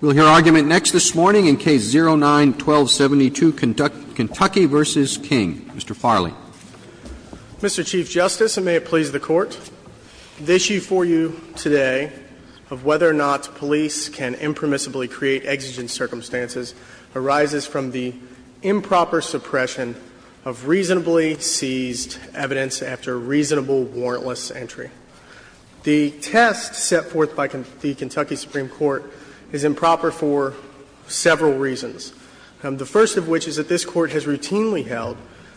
We'll hear argument next this morning in Case 09-1272, Kentucky v. King. Mr. Farley. Mr. Chief Justice, and may it please the Court, the issue for you today of whether or not police can impermissibly create exigent circumstances arises from the improper suppression of reasonably seized evidence after reasonable warrantless entry. The test set forth by the Kentucky Supreme Court is improper for several reasons. The first of which is that this Court has routinely held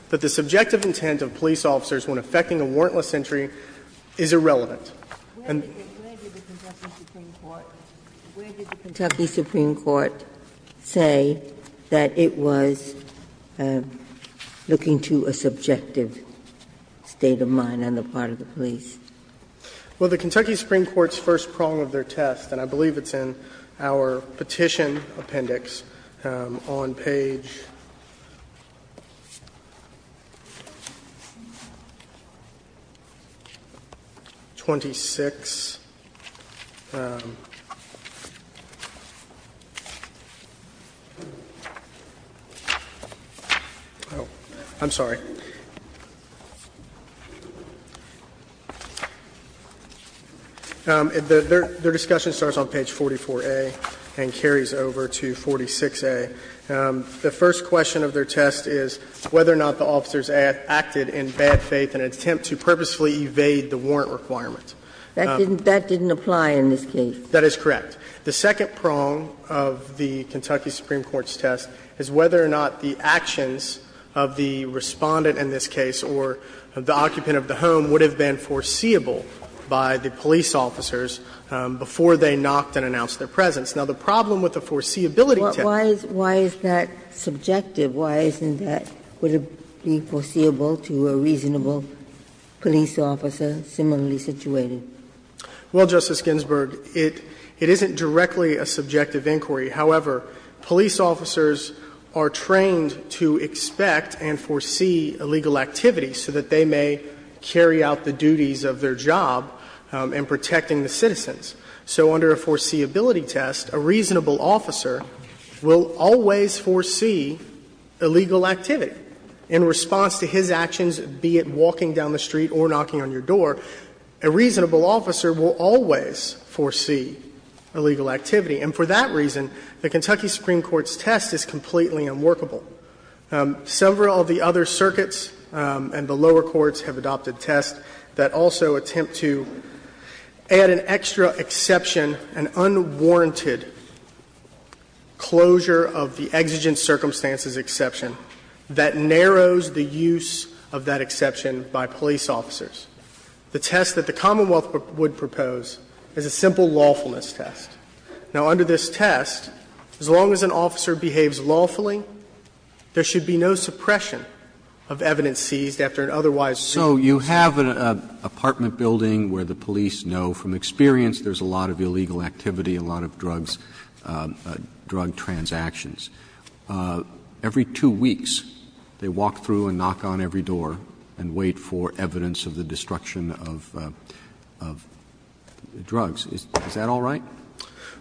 that the subjective intent of police officers when effecting a warrantless entry is irrelevant. And the Kentucky Supreme Court say that it was looking to a subjective state of mind on the part of the police? Well, the Kentucky Supreme Court's first prong of their test, and I believe it's in our Petition Appendix, on page 26 — oh, I'm sorry. Their discussion starts on page 44a and carries over to 46a. The first question of their test is whether or not the officers acted in bad faith in an attempt to purposefully evade the warrant requirement. That didn't apply in this case. That is correct. The second prong of the Kentucky Supreme Court's test is whether or not the actions of the Respondent in this case or the occupant of the home would have been foreseeable by the police officers before they knocked and announced their presence. Now, the problem with the foreseeability test is that it doesn't apply in this case. Why is that subjective? Why isn't that foreseeable to a reasonable police officer similarly situated? Well, Justice Ginsburg, it isn't directly a subjective inquiry. However, police officers are trained to expect and foresee illegal activity so that they may carry out the duties of their job in protecting the citizens. So under a foreseeability test, a reasonable officer will always foresee illegal activity in response to his actions, be it walking down the street or knocking on your door. A reasonable officer will always foresee illegal activity. And for that reason, the Kentucky Supreme Court's test is completely unworkable. Several of the other circuits and the lower courts have adopted tests that also attempt to add an extra exception, an unwarranted closure of the exigent circumstances exception that narrows the use of that exception by police officers. The test that the Commonwealth would propose is a simple lawfulness test. Now, under this test, as long as an officer behaves lawfully, there should be no suppression of evidence seized after an otherwise reasonable. Roberts. Roberts. So you have an apartment building where the police know from experience there's a lot of illegal activity, a lot of drugs, drug transactions. Every two weeks, they walk through and knock on every door and wait for evidence of the destruction of drugs. Is that all right?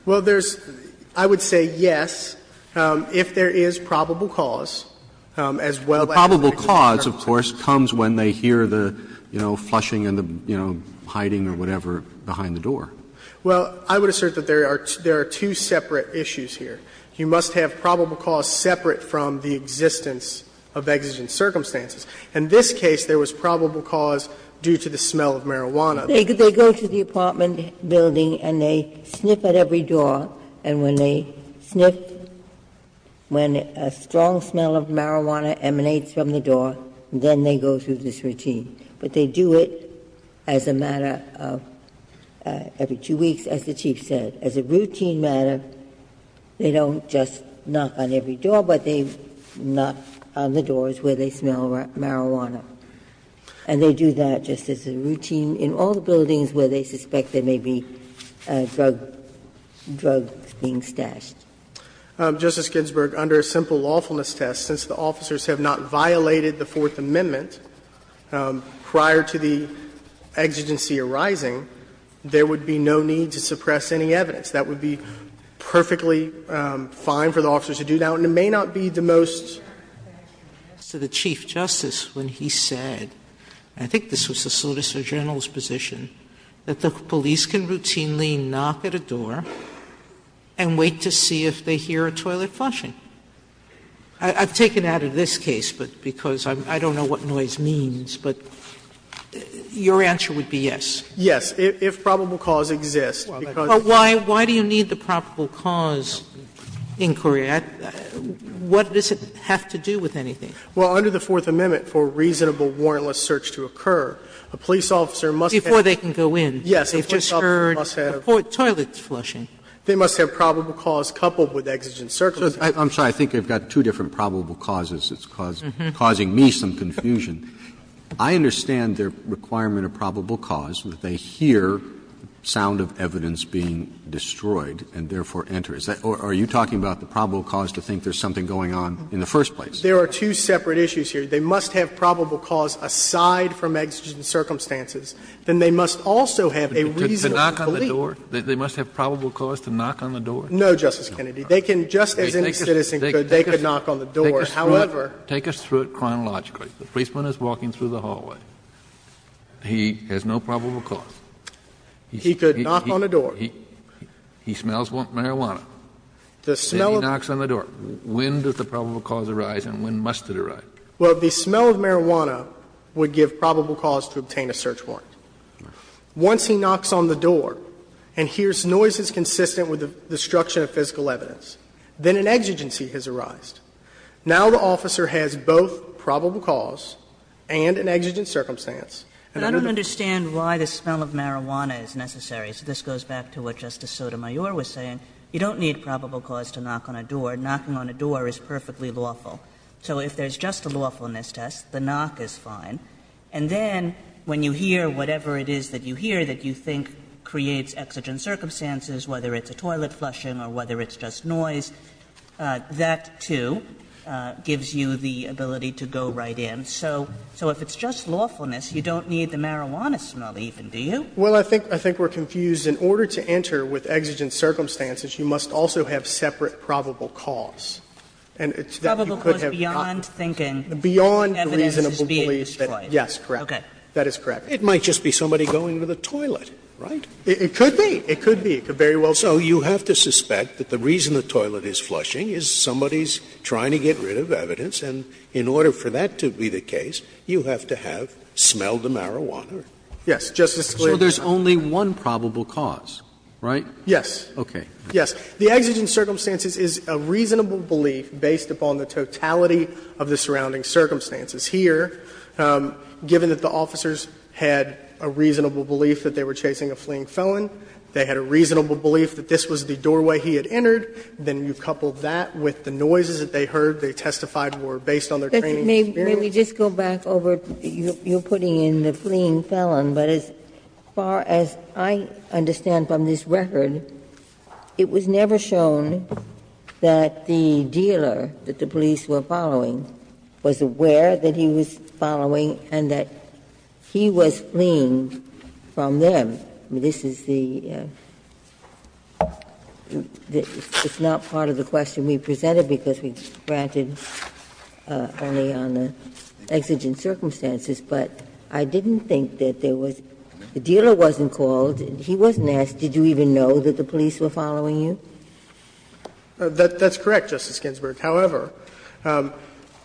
Well, there's – I would say yes, if there is probable cause, as well as the reason for the purpose. The probable cause, of course, comes when they hear the, you know, flushing and the, you know, hiding or whatever behind the door. Well, I would assert that there are two separate issues here. You must have probable cause separate from the existence of exigent circumstances. In this case, there was probable cause due to the smell of marijuana. They go to the apartment building and they sniff at every door, and when they sniff when a strong smell of marijuana emanates from the door, then they go through this routine. But they do it as a matter of every two weeks, as the Chief said. As a routine matter, they don't just knock on every door, but they knock on the doors where they smell marijuana. And they do that just as a routine in all the buildings where they suspect there may be drug – drugs being stashed. Justice Ginsburg, under a simple lawfulness test, since the officers have not violated the Fourth Amendment prior to the exigency arising, there would be no need to suppress any evidence. That would be perfectly fine for the officers to do that, and it may not be the most to the Chief Justice when he said, I think this was the Solicitor General's position, that the police can routinely knock at a door and wait to see if they hear a toilet flushing. I've taken that out of this case, but because I don't know what noise means, but your answer would be yes. Yes, if probable cause exists. Sotomayor, why do you need the probable cause inquiry? What does it have to do with anything? Well, under the Fourth Amendment, for reasonable warrantless search to occur, a police officer must have to go in. Before they can go in, they've just heard a toilet flushing. They must have probable cause coupled with exigent circumstances. I'm sorry. I think I've got two different probable causes that's causing me some confusion. I understand their requirement of probable cause, that they hear sound of evidence being destroyed and therefore enter. Is that or are you talking about the probable cause to think there's something going on in the first place? There are two separate issues here. They must have probable cause aside from exigent circumstances, then they must also have a reasonable belief. To knock on the door? They must have probable cause to knock on the door? No, Justice Kennedy. They can, just as any citizen could, they could knock on the door. However. Take us through it chronologically. The policeman is walking through the hallway. He has no probable cause. He could knock on the door. He smells marijuana. The smell of marijuana. Then he knocks on the door. When does the probable cause arise and when must it arise? Well, the smell of marijuana would give probable cause to obtain a search warrant. Once he knocks on the door and hears noises consistent with the destruction of physical evidence, then an exigency has arised. Now the officer has both probable cause and an exigent circumstance. Kagan But I don't understand why the smell of marijuana is necessary. So this goes back to what Justice Sotomayor was saying. You don't need probable cause to knock on a door. Knocking on a door is perfectly lawful. So if there's just a lawfulness test, the knock is fine. And then when you hear whatever it is that you hear that you think creates exigent circumstances, whether it's a toilet flushing or whether it's just noise, that, too, gives you the ability to go right in. So if it's just lawfulness, you don't need the marijuana smell even, do you? Well, I think we're confused. In order to enter with exigent circumstances, you must also have separate probable cause. And it's that you could have knocked. Probable cause beyond thinking evidence is being destroyed. Yes, correct. That is correct. It might just be somebody going to the toilet, right? It could be. It could be. It could very well be. And I suspect that the reason the toilet is flushing is somebody's trying to get rid of evidence, and in order for that to be the case, you have to have smelled the marijuana. Yes, Justice Scalia. So there's only one probable cause, right? Yes. Okay. Yes. The exigent circumstances is a reasonable belief based upon the totality of the surrounding circumstances here, given that the officers had a reasonable belief that they were chasing a fleeing felon. They had a reasonable belief that this was the doorway he had entered. Then you couple that with the noises that they heard, they testified were based on their training experience. May we just go back over, you're putting in the fleeing felon, but as far as I understand from this record, it was never shown that the dealer that the police were following was aware that he was following and that he was fleeing from them. This is the – it's not part of the question we presented because we granted only on the exigent circumstances, but I didn't think that there was – the dealer wasn't called, he wasn't asked, did you even know that the police were following you? That's correct, Justice Ginsburg. However,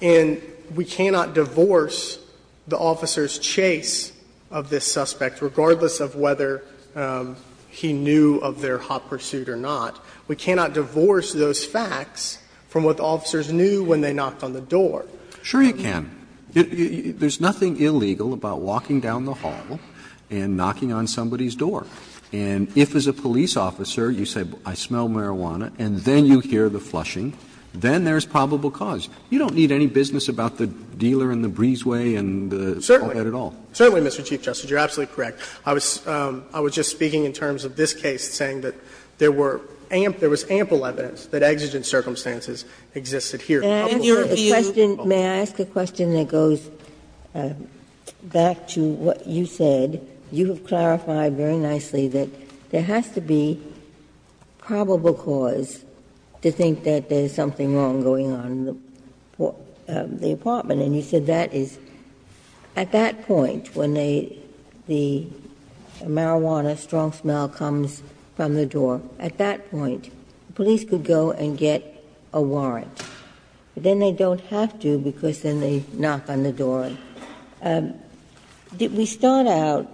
in we cannot divorce the officer's chase of this suspect, regardless of whether he knew of their hot pursuit or not, we cannot divorce those facts from what the officers knew when they knocked on the door. Roberts. Sure you can. There's nothing illegal about walking down the hall and knocking on somebody's door. And if, as a police officer, you say, I smell marijuana, and then you hear the flushing, then there's probable cause. You don't need any business about the dealer and the breezeway and all that at all. Certainly. Certainly, Mr. Chief Justice. You're absolutely correct. I was – I was just speaking in terms of this case, saying that there were – there was ample evidence that exigent circumstances existed here. A couple of things. May I ask a question that goes back to what you said? You have clarified very nicely that there has to be probable cause to think that there's something wrong going on in the apartment. And you said that is – at that point, when they – the marijuana strong smell comes from the door, at that point, police could go and get a warrant. But then they don't have to because then they knock on the door. Did we start out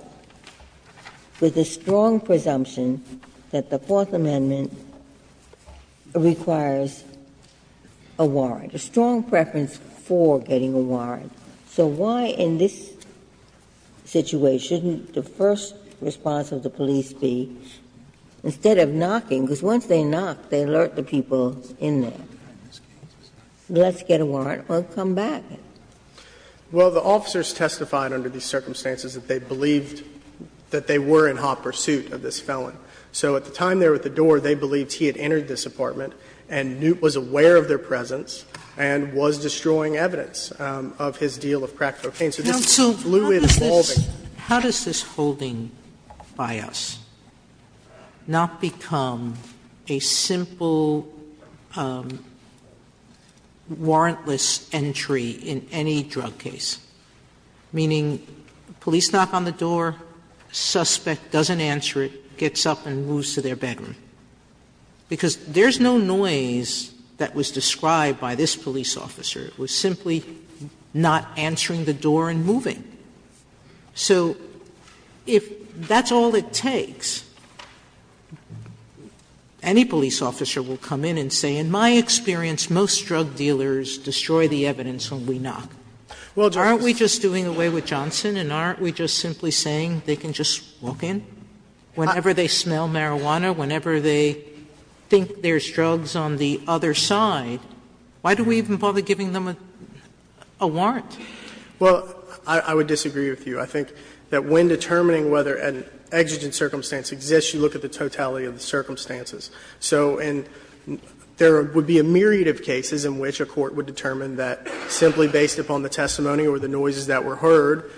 with a strong presumption that the Fourth Amendment requires a warrant, a strong preference for getting a warrant? So why, in this situation, shouldn't the first response of the police be, instead of knocking, because once they knock, they alert the people in there, let's get a warrant or come back. Well, the officers testified under these circumstances that they believed that they were in hot pursuit of this felon. So at the time they were at the door, they believed he had entered this apartment and was aware of their presence and was destroying evidence of his deal of crack cocaine. So this is completely dissolving. Sotomayor, how does this holding by us not become a simple warrantless entry in any drug case, meaning police knock on the door, suspect doesn't answer it, gets up and moves to their bedroom? Because there's no noise that was described by this police officer. It was simply not answering the door and moving. So if that's all it takes, any police officer will come in and say, in my experience, most drug dealers destroy the evidence when we knock. Aren't we just doing away with Johnson and aren't we just simply saying they can just walk in whenever they smell marijuana, whenever they think there's drugs on the other side? Why do we even bother giving them a warrant? Well, I would disagree with you. I think that when determining whether an exigent circumstance exists, you look at the totality of the circumstances. So in there would be a myriad of cases in which a court would determine that simply based upon the testimony or the noises that were heard,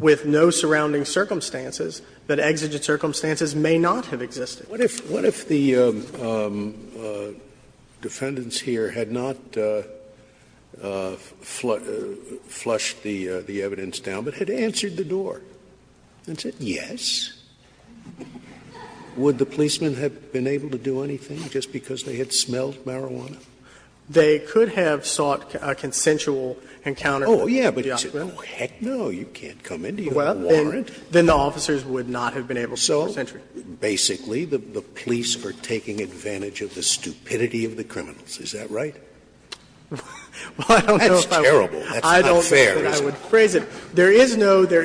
with no surrounding circumstances, that exigent circumstances may not have existed. Scalia's What if the defendants here had not flushed the evidence down, but had answered the door and said yes? Would the policemen have been able to do anything just because they had smelled marijuana? They could have sought a consensual encounter with the offender. Oh, yeah, but you said, oh, heck no, you can't come in, do you have a warrant? Then the officers would not have been able to get this entry. So basically, the police are taking advantage of the stupidity of the criminals, is that right? That's terrible. That's not fair, is it? I don't know if I would phrase it. There is no – there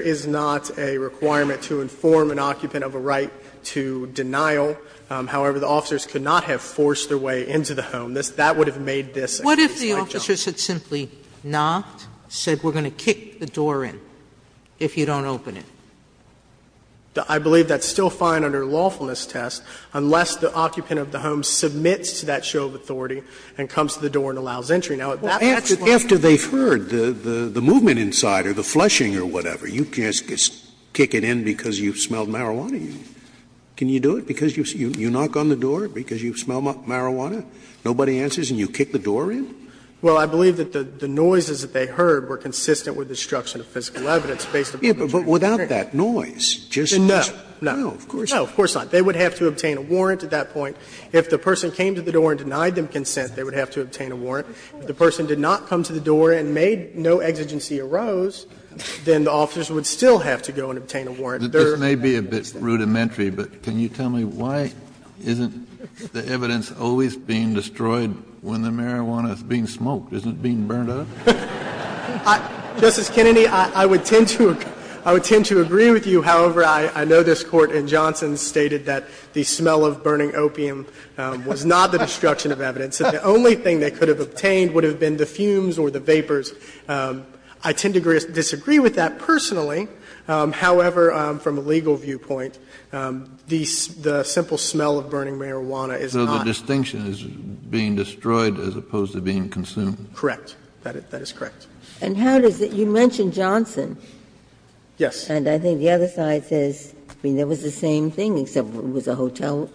is not a requirement to inform an occupant of a right to denial. However, the officers could not have forced their way into the home. That would have made this a case like this. Sotomayor What if the officers had simply not said we're going to kick the door in? If you don't open it. I believe that's still fine under lawfulness test unless the occupant of the home submits to that show of authority and comes to the door and allows entry. Now, if that's what they've heard, the movement inside or the flushing or whatever, you can't kick it in because you've smelled marijuana. Can you do it because you knock on the door because you smell marijuana, nobody answers, and you kick the door in? Well, I believe that the noises that they heard were consistent with destruction of physical evidence based upon the fact that they heard it. But without that noise, just because of the smell, of course. No, no, of course not. They would have to obtain a warrant at that point. If the person came to the door and denied them consent, they would have to obtain a warrant. If the person did not come to the door and made no exigency arose, then the officers would still have to go and obtain a warrant. This may be a bit rudimentary, but can you tell me why isn't the evidence always being destroyed when the marijuana is being smoked? Isn't it being burned up? Justice Kennedy, I would tend to agree with you. However, I know this Court in Johnson stated that the smell of burning opium was not the destruction of evidence, that the only thing they could have obtained would have been the fumes or the vapors. I tend to disagree with that personally. However, from a legal viewpoint, the simple smell of burning marijuana is not. So the distinction is being destroyed as opposed to being consumed? Correct. That is correct. And how does it – you mentioned Johnson. Yes. And I think the other side says, I mean, there was the same thing except it was a hotel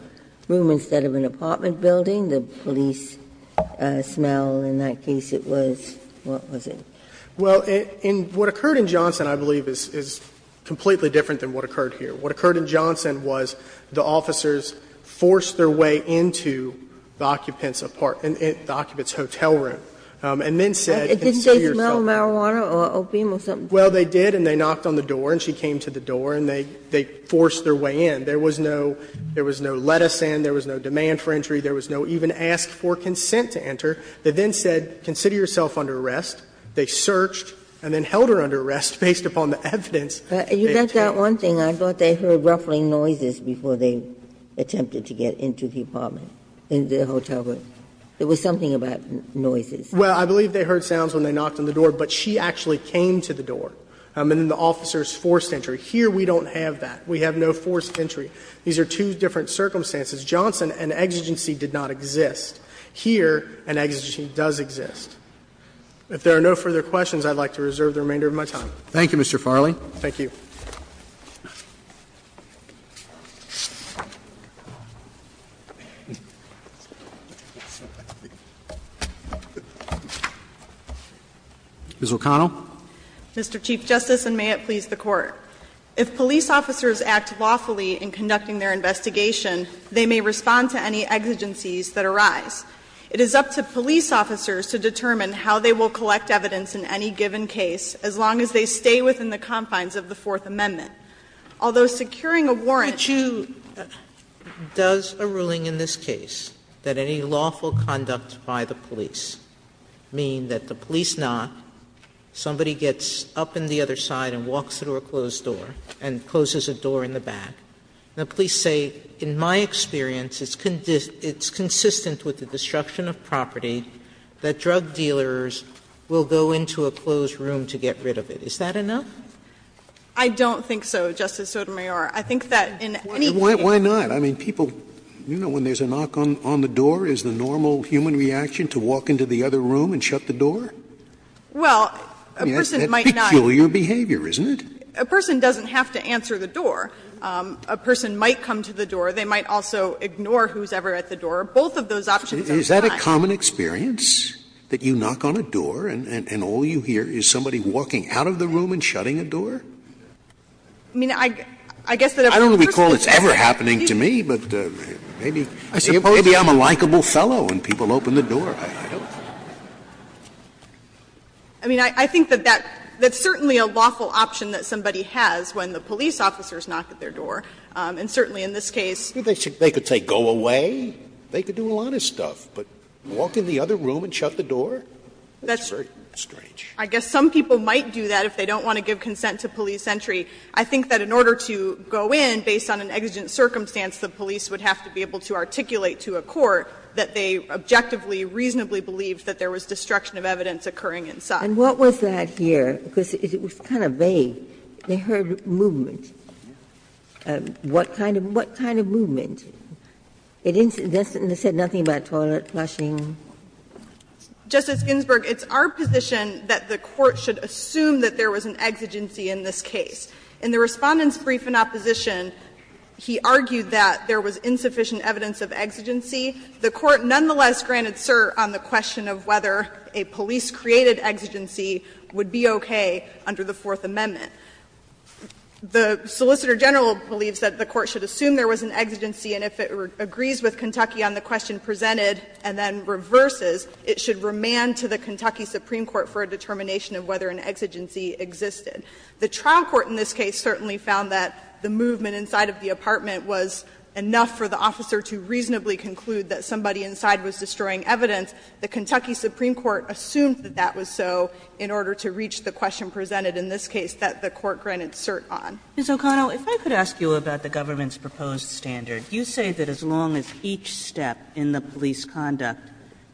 room instead of an apartment building. The police smell in that case, it was – what was it? Well, in what occurred in Johnson, I believe, is completely different than what occurred here. What occurred in Johnson was the officers forced their way into the occupant's apartment, the occupant's hotel room. And then said, consider yourself under arrest. Didn't they smell marijuana or opium or something? Well, they did, and they knocked on the door, and she came to the door, and they forced their way in. There was no – there was no let us in, there was no demand for entry, there was no even ask for consent to enter. They then said, consider yourself under arrest. They searched and then held her under arrest based upon the evidence they obtained. You got that one thing. I thought they heard ruffling noises before they attempted to get into the apartment in the hotel room. There was something about noises. Well, I believe they heard sounds when they knocked on the door, but she actually came to the door. And then the officers forced entry. Here we don't have that. We have no forced entry. These are two different circumstances. Johnson, an exigency did not exist. Here, an exigency does exist. If there are no further questions, I'd like to reserve the remainder of my time. Thank you, Mr. Farley. Thank you. Ms. O'Connell. Mr. Chief Justice, and may it please the Court. If police officers act lawfully in conducting their investigation, they may respond to any exigencies that arise. It is up to police officers to determine how they will collect evidence in any given case, as long as they stay within the confines of the Fourth Amendment. Although securing a warrant, you Could you, does a ruling in this case that any lawful conduct by the police mean that the police knock, somebody gets up in the other side and walks through a closed door and closes a door in the back, and the police say, in my experience, it's consistent with the destruction of property that drug dealers will go into a closed room to get rid of it, is that enough? I don't think so, Justice Sotomayor. I think that in any case Why not? I mean, people, you know, when there's a knock on the door, is the normal human reaction to walk into the other room and shut the door? Well, a person might not That's peculiar behavior, isn't it? A person doesn't have to answer the door. A person might come to the door. They might also ignore who's ever at the door. Both of those options are fine. Is that a common experience, that you knock on a door and all you hear is somebody walking out of the room and shutting a door? I mean, I guess that a person I don't recall it ever happening to me, but maybe I'm a likable fellow and people open the door. I don't I mean, I think that that's certainly a lawful option that somebody has when the police officers knock at their door, and certainly in this case They could say, go away. They could do a lot of stuff. But walk in the other room and shut the door? That's very strange. I guess some people might do that if they don't want to give consent to police entry. I think that in order to go in, based on an exigent circumstance, the police would have to be able to articulate to a court that they objectively, reasonably believed that there was destruction of evidence occurring inside. And what was that here? Because it was kind of vague. They heard movement. What kind of movement? It didn't say nothing about toilet flushing. O'Connell. Justice Ginsburg, it's our position that the Court should assume that there was an exigency in this case. In the Respondent's brief in opposition, he argued that there was insufficient evidence of exigency. The Court nonetheless granted cert on the question of whether a police-created exigency would be okay under the Fourth Amendment. The Solicitor General believes that the Court should assume there was an exigency, and if it agrees with Kentucky on the question presented and then reverses, it should remand to the Kentucky Supreme Court for a determination of whether an exigency existed. The trial court in this case certainly found that the movement inside of the apartment was enough for the officer to reasonably conclude that somebody inside was destroying evidence. And so the Court granted cert on the question presented in this case that the Court granted cert on. Kagan. Kagan. Kagan. Ms. O'Connell, if I could ask you about the government's proposed standard. You say that as long as each step in the police conduct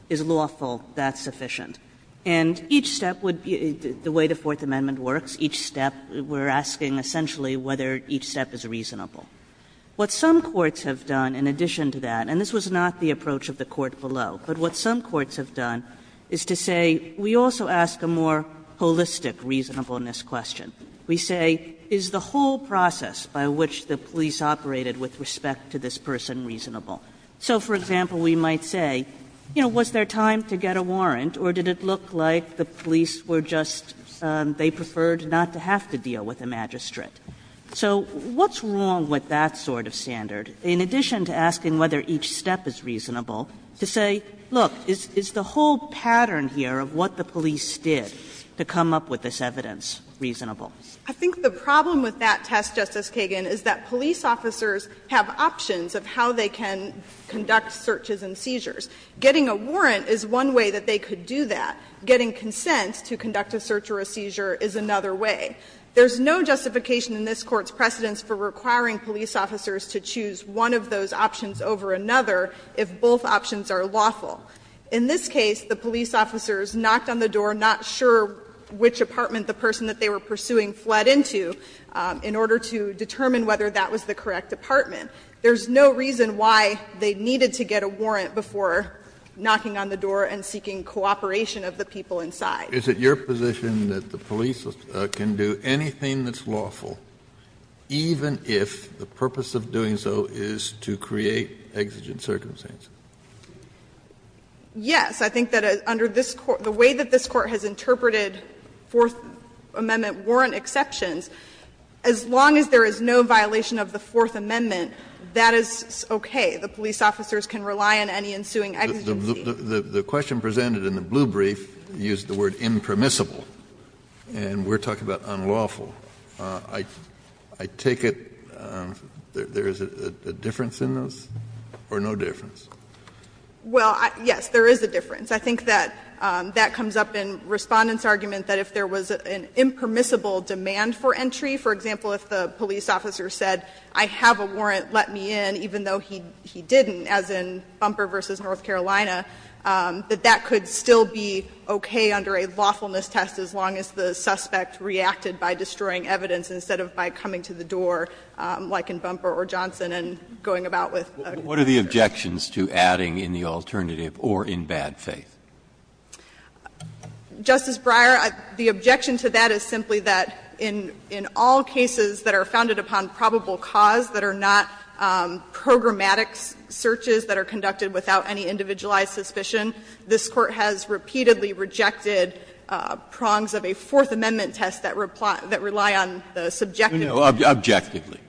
is lawful, that's sufficient. And each step would be, the way the Fourth Amendment works, each step, we're asking essentially whether each step is reasonable. What some courts have done in addition to that, and this was not the approach of the Court below, but what some courts have done is to say, we also ask a more holistic reasonableness question. We say, is the whole process by which the police operated with respect to this person reasonable? So, for example, we might say, you know, was there time to get a warrant or did it look like the police were just, they preferred not to have to deal with a magistrate? So what's wrong with that sort of standard? In addition to asking whether each step is reasonable, to say, look, is the whole pattern here of what the police did to come up with this evidence reasonable? O'Connell, I think the problem with that test, Justice Kagan, is that police officers have options of how they can conduct searches and seizures. Getting a warrant is one way that they could do that. Getting consent to conduct a search or a seizure is another way. There's no justification in this Court's precedence for requiring police officers to choose one of those options over another if both options are lawful. In this case, the police officers knocked on the door, not sure which apartment the person that they were pursuing fled into, in order to determine whether that was the correct apartment. There's no reason why they needed to get a warrant before knocking on the door and seeking cooperation of the people inside. Kennedy, is it your position that the police can do anything that's lawful, even if the purpose of doing so is to create exigent circumstances? O'Connell, yes. I think that under this Court, the way that this Court has interpreted Fourth Amendment warrant exceptions, as long as there is no violation of the Fourth Amendment, that is okay. The police officers can rely on any ensuing exigency. Kennedy, the question presented in the blue brief used the word impermissible, and we're talking about unlawful. I take it there is a difference in those, or no difference? Well, yes, there is a difference. I think that that comes up in Respondent's argument that if there was an impermissible demand for entry, for example, if the police officer said, I have a warrant, let me in, even though he didn't, as in Bumper v. North Carolina, that that could still be okay under a lawfulness test as long as the suspect reacted by destroying evidence instead of by coming to the door, like in Bumper or Johnson, and going about with a concern. What are the objections to adding in the alternative, or in bad faith? Justice Breyer, the objection to that is simply that in all cases that are founded upon probable cause that are not programmatic searches that are conducted without any individualized suspicion, this Court has repeatedly rejected prongs of a Fourth Amendment that rely on the subjective. No, objectively.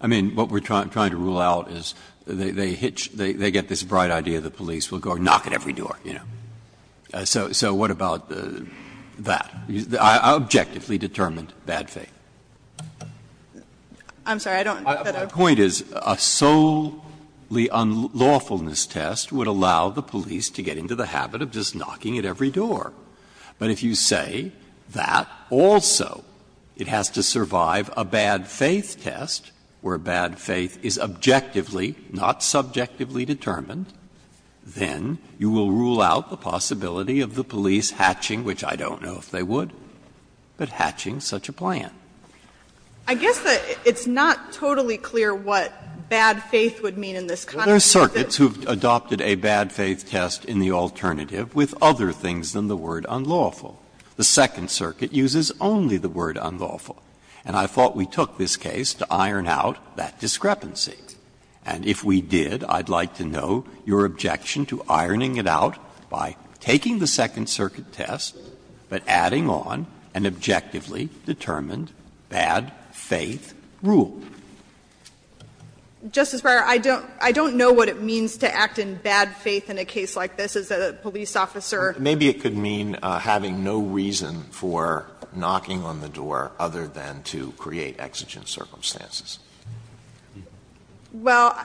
I mean, what we're trying to rule out is they hitch, they get this bright idea the police will go and knock at every door, you know. So what about that? Objectively determined bad faith. I'm sorry, I don't get it. My point is a solely unlawfulness test would allow the police to get into the habit of just knocking at every door. But if you say that also it has to survive a bad faith test, where bad faith is objectively, not subjectively determined, then you will rule out the possibility of the police hatching, which I don't know if they would, but hatching such a plan. I guess that it's not totally clear what bad faith would mean in this context. Breyer, there are circuits who have adopted a bad faith test in the alternative with other things than the word unlawful. The Second Circuit uses only the word unlawful, and I thought we took this case to iron out that discrepancy. And if we did, I'd like to know your objection to ironing it out by taking the Second Circuit test but adding on an objectively determined bad faith rule. Justice Breyer, I don't know what it means to act in bad faith in a case like this as a police officer. Maybe it could mean having no reason for knocking on the door other than to create exigent circumstances. Well,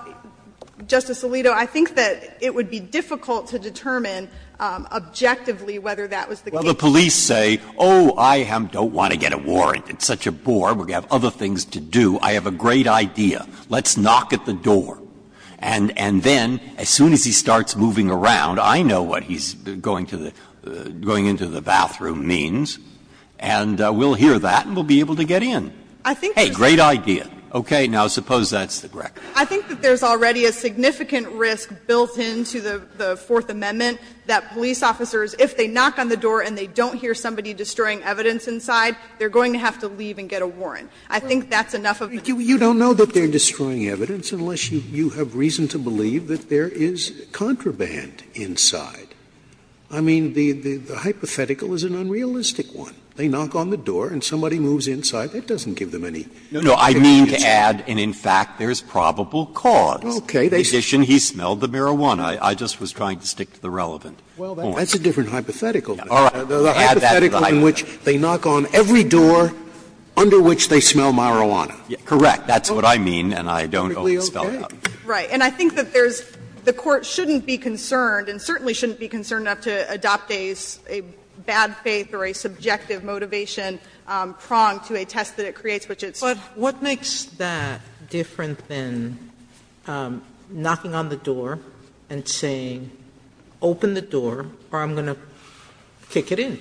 Justice Alito, I think that it would be difficult to determine objectively whether that was the case. Well, the police say, oh, I don't want to get a warrant, it's such a bore, we have other things to do. I have a great idea, let's knock at the door. And then, as soon as he starts moving around, I know what he's going to the going into the bathroom means, and we'll hear that and we'll be able to get in. Hey, great idea. Okay. Now, suppose that's the record. I think that there's already a significant risk built into the Fourth Amendment that police officers, if they knock on the door and they don't hear somebody destroying evidence inside, they're going to have to leave and get a warrant. I think that's enough of a reason. You don't know that they're destroying evidence unless you have reason to believe that there is contraband inside. I mean, the hypothetical is an unrealistic one. They knock on the door and somebody moves inside. That doesn't give them any evidence. No, I mean to add, and in fact, there's probable cause. Okay. In addition, he smelled the marijuana. I just was trying to stick to the relevant point. Well, that's a different hypothetical. All right. Add that to the hypothetical. In which they knock on every door under which they smell marijuana. Correct. That's what I mean, and I don't owe the spell out. Right. And I think that there's the Court shouldn't be concerned, and certainly shouldn't be concerned enough to adopt a bad faith or a subjective motivation prong to a test that it creates, which it's not. But what makes that different than knocking on the door and saying, open the door or I'm going to kick it in?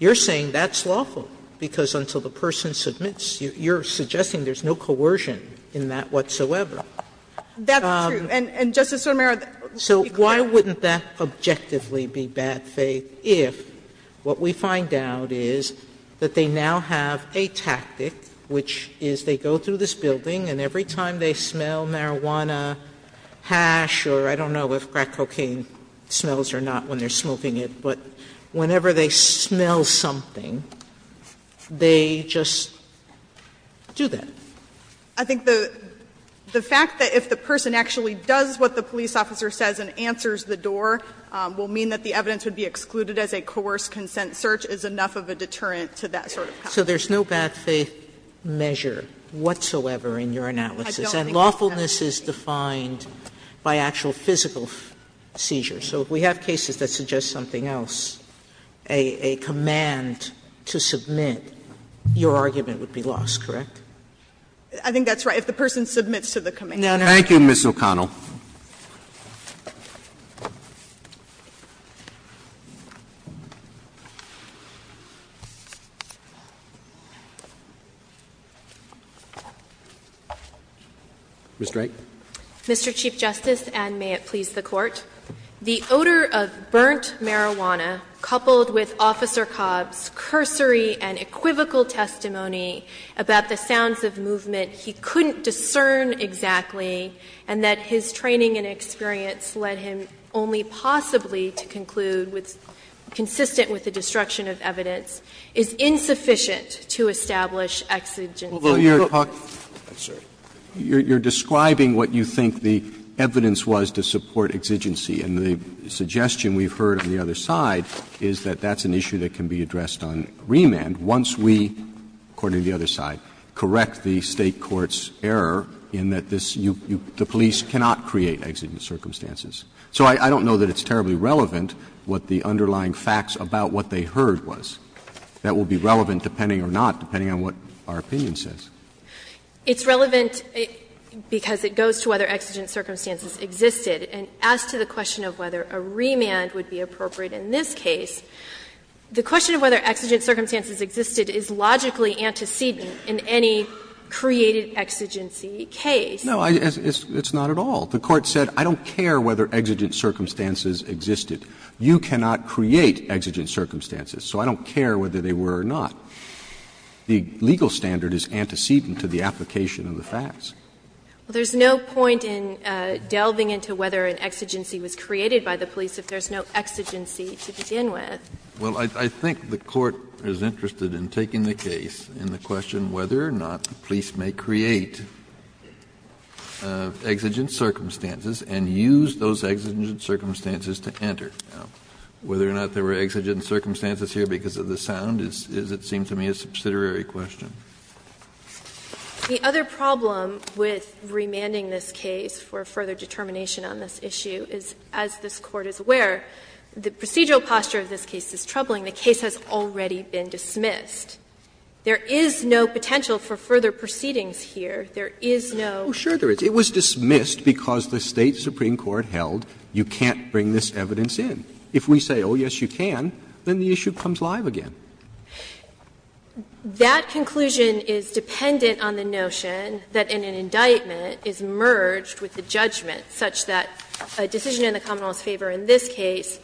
You're saying that's lawful, because until the person submits, you're suggesting there's no coercion in that whatsoever. That's true. And, Justice Sotomayor, let me clarify. So why wouldn't that objectively be bad faith if what we find out is that they now have a tactic, which is they go through this building and every time they smell marijuana, hash, or I don't know if crack cocaine smells or not when they're smoking it, but whenever they smell something, they just do that? I think the fact that if the person actually does what the police officer says and answers the door will mean that the evidence would be excluded as a coerced consent search is enough of a deterrent to that sort of policy. So there's no bad faith measure whatsoever in your analysis. And lawfulness is defined by actual physical seizures. So if we have cases that suggest something else, a command to submit, your argument would be lost, correct? I think that's right. If the person submits to the command. Thank you, Ms. O'Connell. Ms. Drake. Mr. Chief Justice, and may it please the Court. The odor of burnt marijuana coupled with Officer Cobb's cursory and equivocal testimony about the sounds of movement he couldn't discern exactly and that his training and experience led him only possibly to conclude with consistent with the destruction of evidence is insufficient to establish exigency. You're describing what you think the evidence was to support exigency, and the suggestion we've heard on the other side is that that's an issue that can be addressed on remand once we, according to the other side, correct the State court's error in that the police cannot create exigent circumstances. So I don't know that it's terribly relevant what the underlying facts about what they heard was. That will be relevant, depending or not, depending on what our opinion says. It's relevant because it goes to whether exigent circumstances existed. And as to the question of whether a remand would be appropriate in this case, the question of whether exigent circumstances existed is logically antecedent in any created exigency case. No, it's not at all. The Court said I don't care whether exigent circumstances existed. You cannot create exigent circumstances. So I don't care whether they were or not. The legal standard is antecedent to the application of the facts. Well, there's no point in delving into whether an exigency was created by the police if there's no exigency to begin with. Well, I think the Court is interested in taking the case in the question whether or not the police may create exigent circumstances and use those exigent circumstances to enter. Whether or not there were exigent circumstances here because of the sound is, it seems to me, a subsidiary question. The other problem with remanding this case for further determination on this issue is, as this Court is aware, the procedural posture of this case is troubling. The case has already been dismissed. There is no potential for further proceedings here. There is no ---- Oh, sure there is. It was dismissed because the State supreme court held you can't bring this evidence in. If we say, oh, yes, you can, then the issue comes live again. That conclusion is dependent on the notion that an indictment is merged with the judgment such that a decision in the common law's favor in this case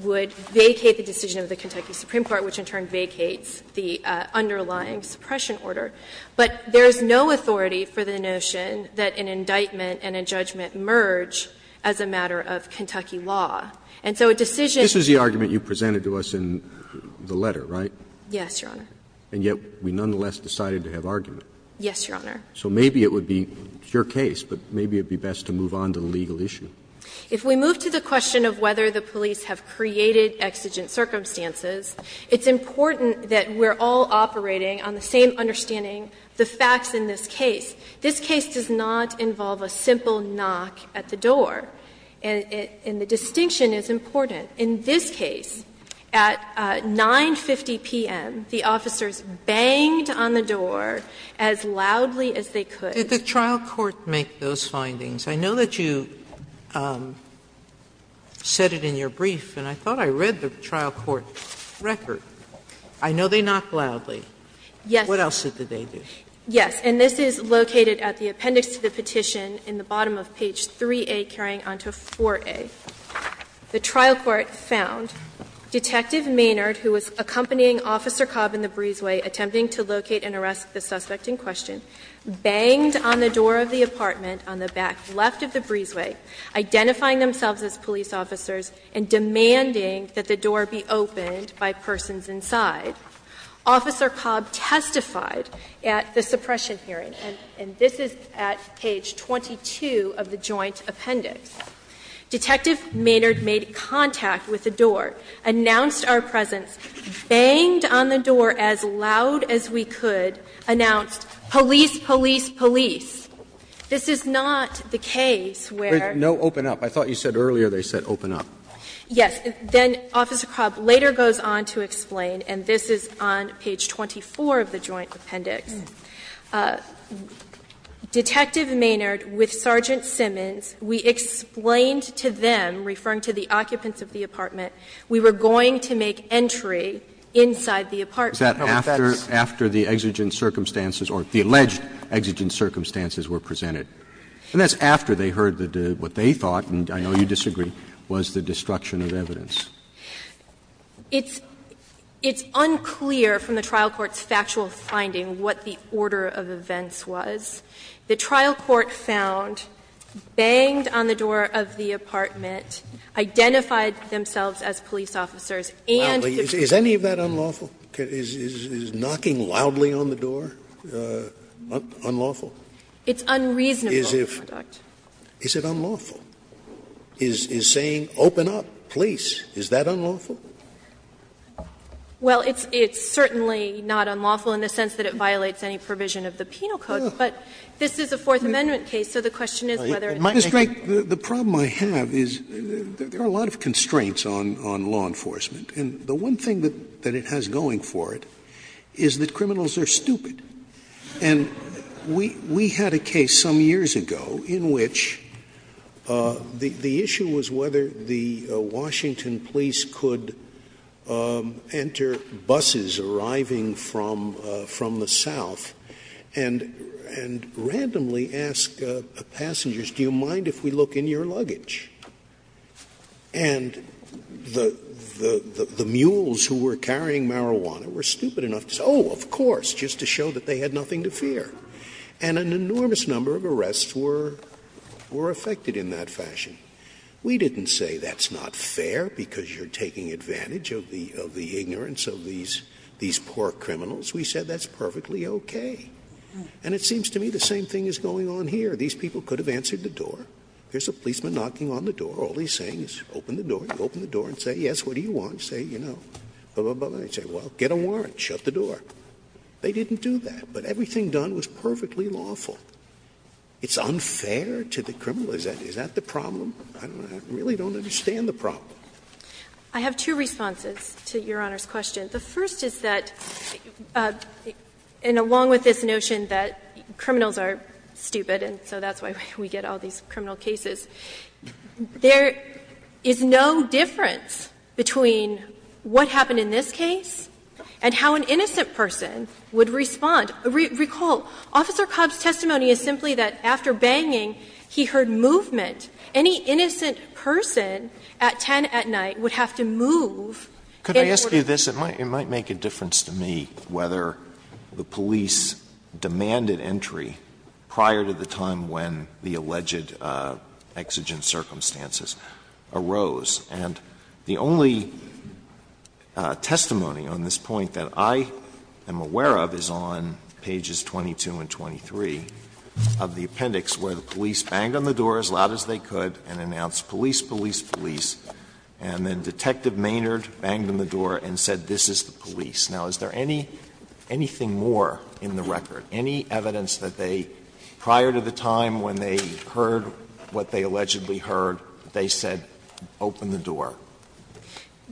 would vacate the decision of the Kentucky supreme court, which in turn vacates the underlying suppression order, but there is no authority for the notion that an indictment and a judgment merge as a matter of Kentucky law. And so a decision ---- This is the argument you presented to us in the letter, right? Yes, Your Honor. And yet we nonetheless decided to have argument. Yes, Your Honor. So maybe it would be your case, but maybe it would be best to move on to the legal issue. If we move to the question of whether the police have created exigent circumstances, it's important that we're all operating on the same understanding, the facts in this case. This case does not involve a simple knock at the door. And the distinction is important. In this case, at 9.50 p.m., the officers banged on the door as loudly as they could. Did the trial court make those findings? I know that you said it in your brief, and I thought I read the trial court record. I know they knocked loudly. Yes. What else did they do? Yes. And this is located at the appendix to the petition in the bottom of page 3a, carrying on to 4a. The trial court found Detective Maynard, who was accompanying Officer Cobb in the breezeway attempting to locate and arrest the suspect in question, banged on the door of the apartment on the back left of the breezeway, identifying themselves as police officers and demanding that the door be opened by persons inside. Officer Cobb testified at the suppression hearing, and this is at page 22 of the joint appendix. Detective Maynard made contact with the door, announced our presence, banged on the door as loud as we could, announced, police, police, police. This is not the case where they said, open up. Yes. Then Officer Cobb later goes on to explain, and this is on page 24 of the joint appendix. Detective Maynard, with Sergeant Simmons, we explained to them, referring to the occupants of the apartment, we were going to make entry inside the apartment. Roberts. Is that after the exigent circumstances or the alleged exigent circumstances were presented? And that's after they heard that what they thought, and I know you disagree, was the destruction of evidence. It's unclear from the trial court's factual finding what the order of events was. The trial court found, banged on the door of the apartment, identified themselves as police officers, and the truth. Is any of that unlawful? Is knocking loudly on the door unlawful? It's unreasonable. Is it unlawful? Is saying, open up, police, is that unlawful? Well, it's certainly not unlawful in the sense that it violates any provision of the penal code, but this is a Fourth Amendment case, so the question is whether it's making it unlawful. The problem I have is there are a lot of constraints on law enforcement, and the one thing that it has going for it is that criminals are stupid. And we had a case some years ago in which the issue was whether the Washington police could enter buses arriving from the south and randomly ask passengers, do you mind if we look in your luggage? And the mules who were carrying marijuana were stupid enough to say, oh, of course, just to show that they had nothing to fear. And an enormous number of arrests were affected in that fashion. We didn't say that's not fair because you're taking advantage of the ignorance of these poor criminals. We said that's perfectly okay. And it seems to me the same thing is going on here. These people could have answered the door. There's a policeman knocking on the door. All he's saying is open the door. You open the door and say, yes, what do you want? Say, you know, blah, blah, blah. They say, well, get a warrant, shut the door. They didn't do that, but everything done was perfectly lawful. It's unfair to the criminal? Is that the problem? I really don't understand the problem. I have two responses to Your Honor's question. The first is that, and along with this notion that criminals are stupid, and so that's why we get all these criminal cases, there is no difference between what happened in this case and how an innocent person would respond. Recall, Officer Cobb's testimony is simply that after banging, he heard movement. Any innocent person at 10 at night would have to move in order to respond. Alitoson Could I ask you this? It might make a difference to me whether the police demanded entry prior to the time when the alleged exigent circumstances arose. And the only testimony on this point that I am aware of is on pages 22 and 23 of the appendix where the police banged on the door as loud as they could and announced police, police, police, and then Detective Maynard banged on the door and said, this is the police. Now, is there anything more in the record, any evidence that they, prior to the time when they heard what they allegedly heard, they said, open the door?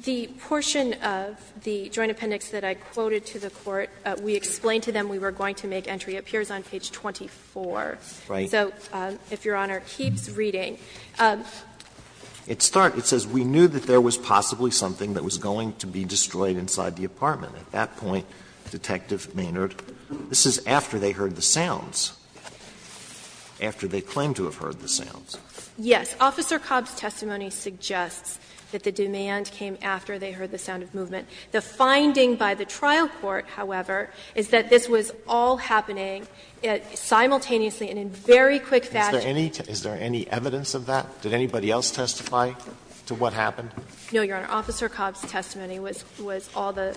The portion of the joint appendix that I quoted to the Court, we explained to them we were going to make entry, appears on page 24. Right. So, if Your Honor keeps reading. It starts, it says, We knew that there was possibly something that was going to be destroyed inside the apartment. At that point, Detective Maynard, this is after they heard the sounds. After they claimed to have heard the sounds. Yes. Officer Cobb's testimony suggests that the demand came after they heard the sound of movement. The finding by the trial court, however, is that this was all happening simultaneously and in very quick fashion. Is there any evidence of that? Did anybody else testify to what happened? No, Your Honor. Officer Cobb's testimony was all the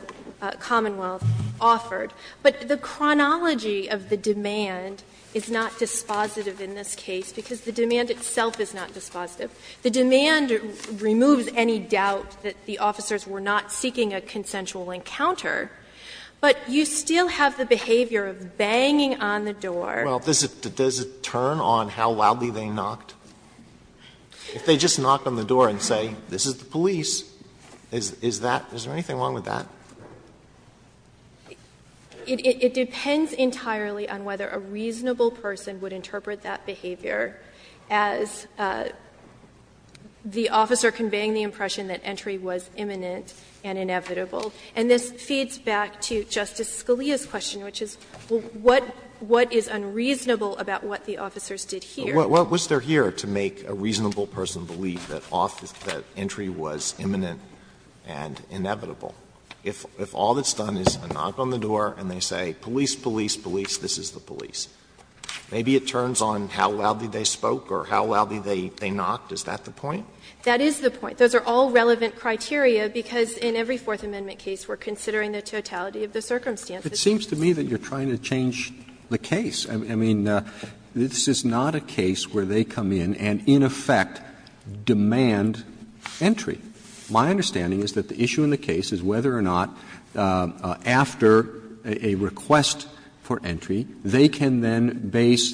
Commonwealth offered. But the chronology of the demand is not dispositive in this case, because the demand itself is not dispositive. The demand removes any doubt that the officers were not seeking a consensual encounter. But you still have the behavior of banging on the door. Well, does it turn on how loudly they knocked? If they just knock on the door and say, this is the police, is that, is there anything wrong with that? It depends entirely on whether a reasonable person would interpret that behavior as the officer conveying the impression that entry was imminent and inevitable. And this feeds back to Justice Scalia's question, which is, what is unreasonable about what the officers did here? What was there here to make a reasonable person believe that entry was imminent and inevitable? If all that's done is a knock on the door and they say, police, police, police, this is the police, maybe it turns on how loudly they spoke or how loudly they knocked. Is that the point? That is the point. Those are all relevant criteria, because in every Fourth Amendment case we're considering the totality of the circumstances. It seems to me that you're trying to change the case. I mean, this is not a case where they come in and in effect demand entry. My understanding is that the issue in the case is whether or not after a request for entry they can then base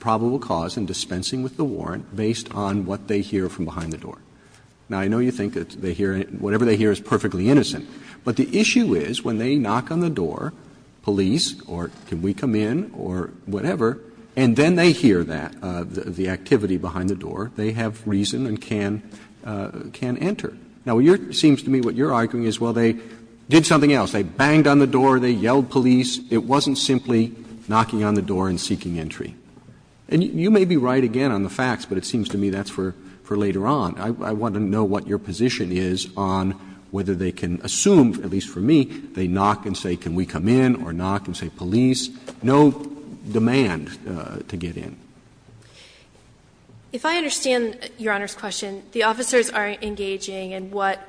probable cause in dispensing with the warrant based on what they hear from behind the door. Now, I know you think that they hear anything, whatever they hear is perfectly innocent, but the issue is when they knock on the door, police, or can we come in, or whatever, and then they hear that, the activity behind the door, they have reason to question and can enter. Now, it seems to me what you're arguing is, well, they did something else. They banged on the door, they yelled police, it wasn't simply knocking on the door and seeking entry. And you may be right again on the facts, but it seems to me that's for later on. I want to know what your position is on whether they can assume, at least for me, they knock and say can we come in or knock and say police, no demand to get in. If I understand Your Honor's question, the officers are engaging in what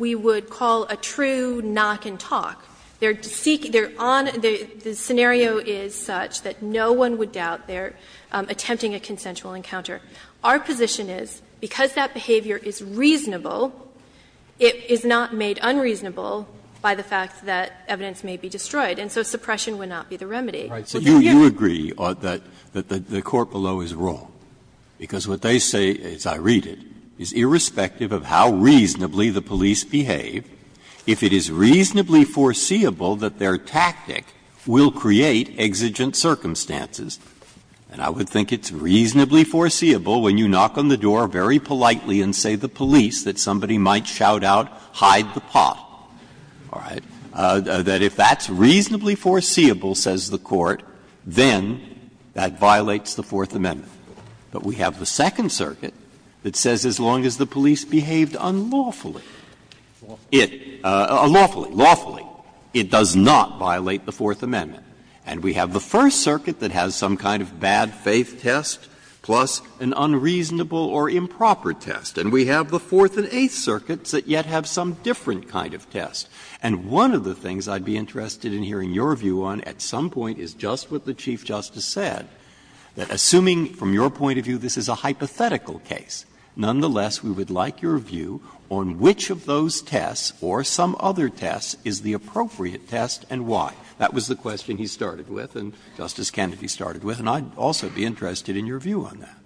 we would call a true knock and talk. They're seeking, they're on, the scenario is such that no one would doubt they're attempting a consensual encounter. Our position is because that behavior is reasonable, it is not made unreasonable by the fact that evidence may be destroyed, and so suppression would not be the remedy. Breyer. Breyer. So you agree that the court below is wrong, because what they say, as I read it, is irrespective of how reasonably the police behave, if it is reasonably foreseeable that their tactic will create exigent circumstances. And I would think it's reasonably foreseeable when you knock on the door very politely and say to the police that somebody might shout out, hide the pot, all right, that if that's reasonably foreseeable, says the court, then that violates the Fourth Amendment. But we have the Second Circuit that says as long as the police behaved unlawfully it, lawfully, lawfully, it does not violate the Fourth Amendment. And we have the First Circuit that has some kind of bad faith test, plus an unreasonable or improper test. And we have the Fourth and Eighth Circuits that yet have some different kind of test. And one of the things I would be interested in hearing your view on at some point is just what the Chief Justice said, that assuming from your point of view this is a hypothetical case, nonetheless, we would like your view on which of those tests or some other tests is the appropriate test and why. That was the question he started with and Justice Kennedy started with, and I would also be interested in your view on that.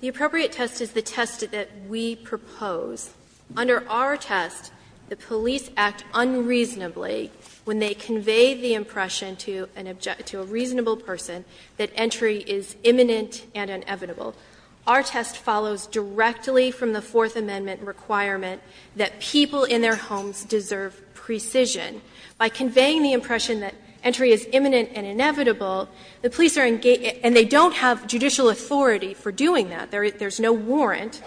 The appropriate test is the test that we propose. Under our test, the police act unreasonably when they convey the impression to an object to a reasonable person that entry is imminent and inevitable. Our test follows directly from the Fourth Amendment requirement that people in their homes deserve precision. By conveying the impression that entry is imminent and inevitable, the police are engaging, and they don't have judicial authority for doing that, there's no warrant.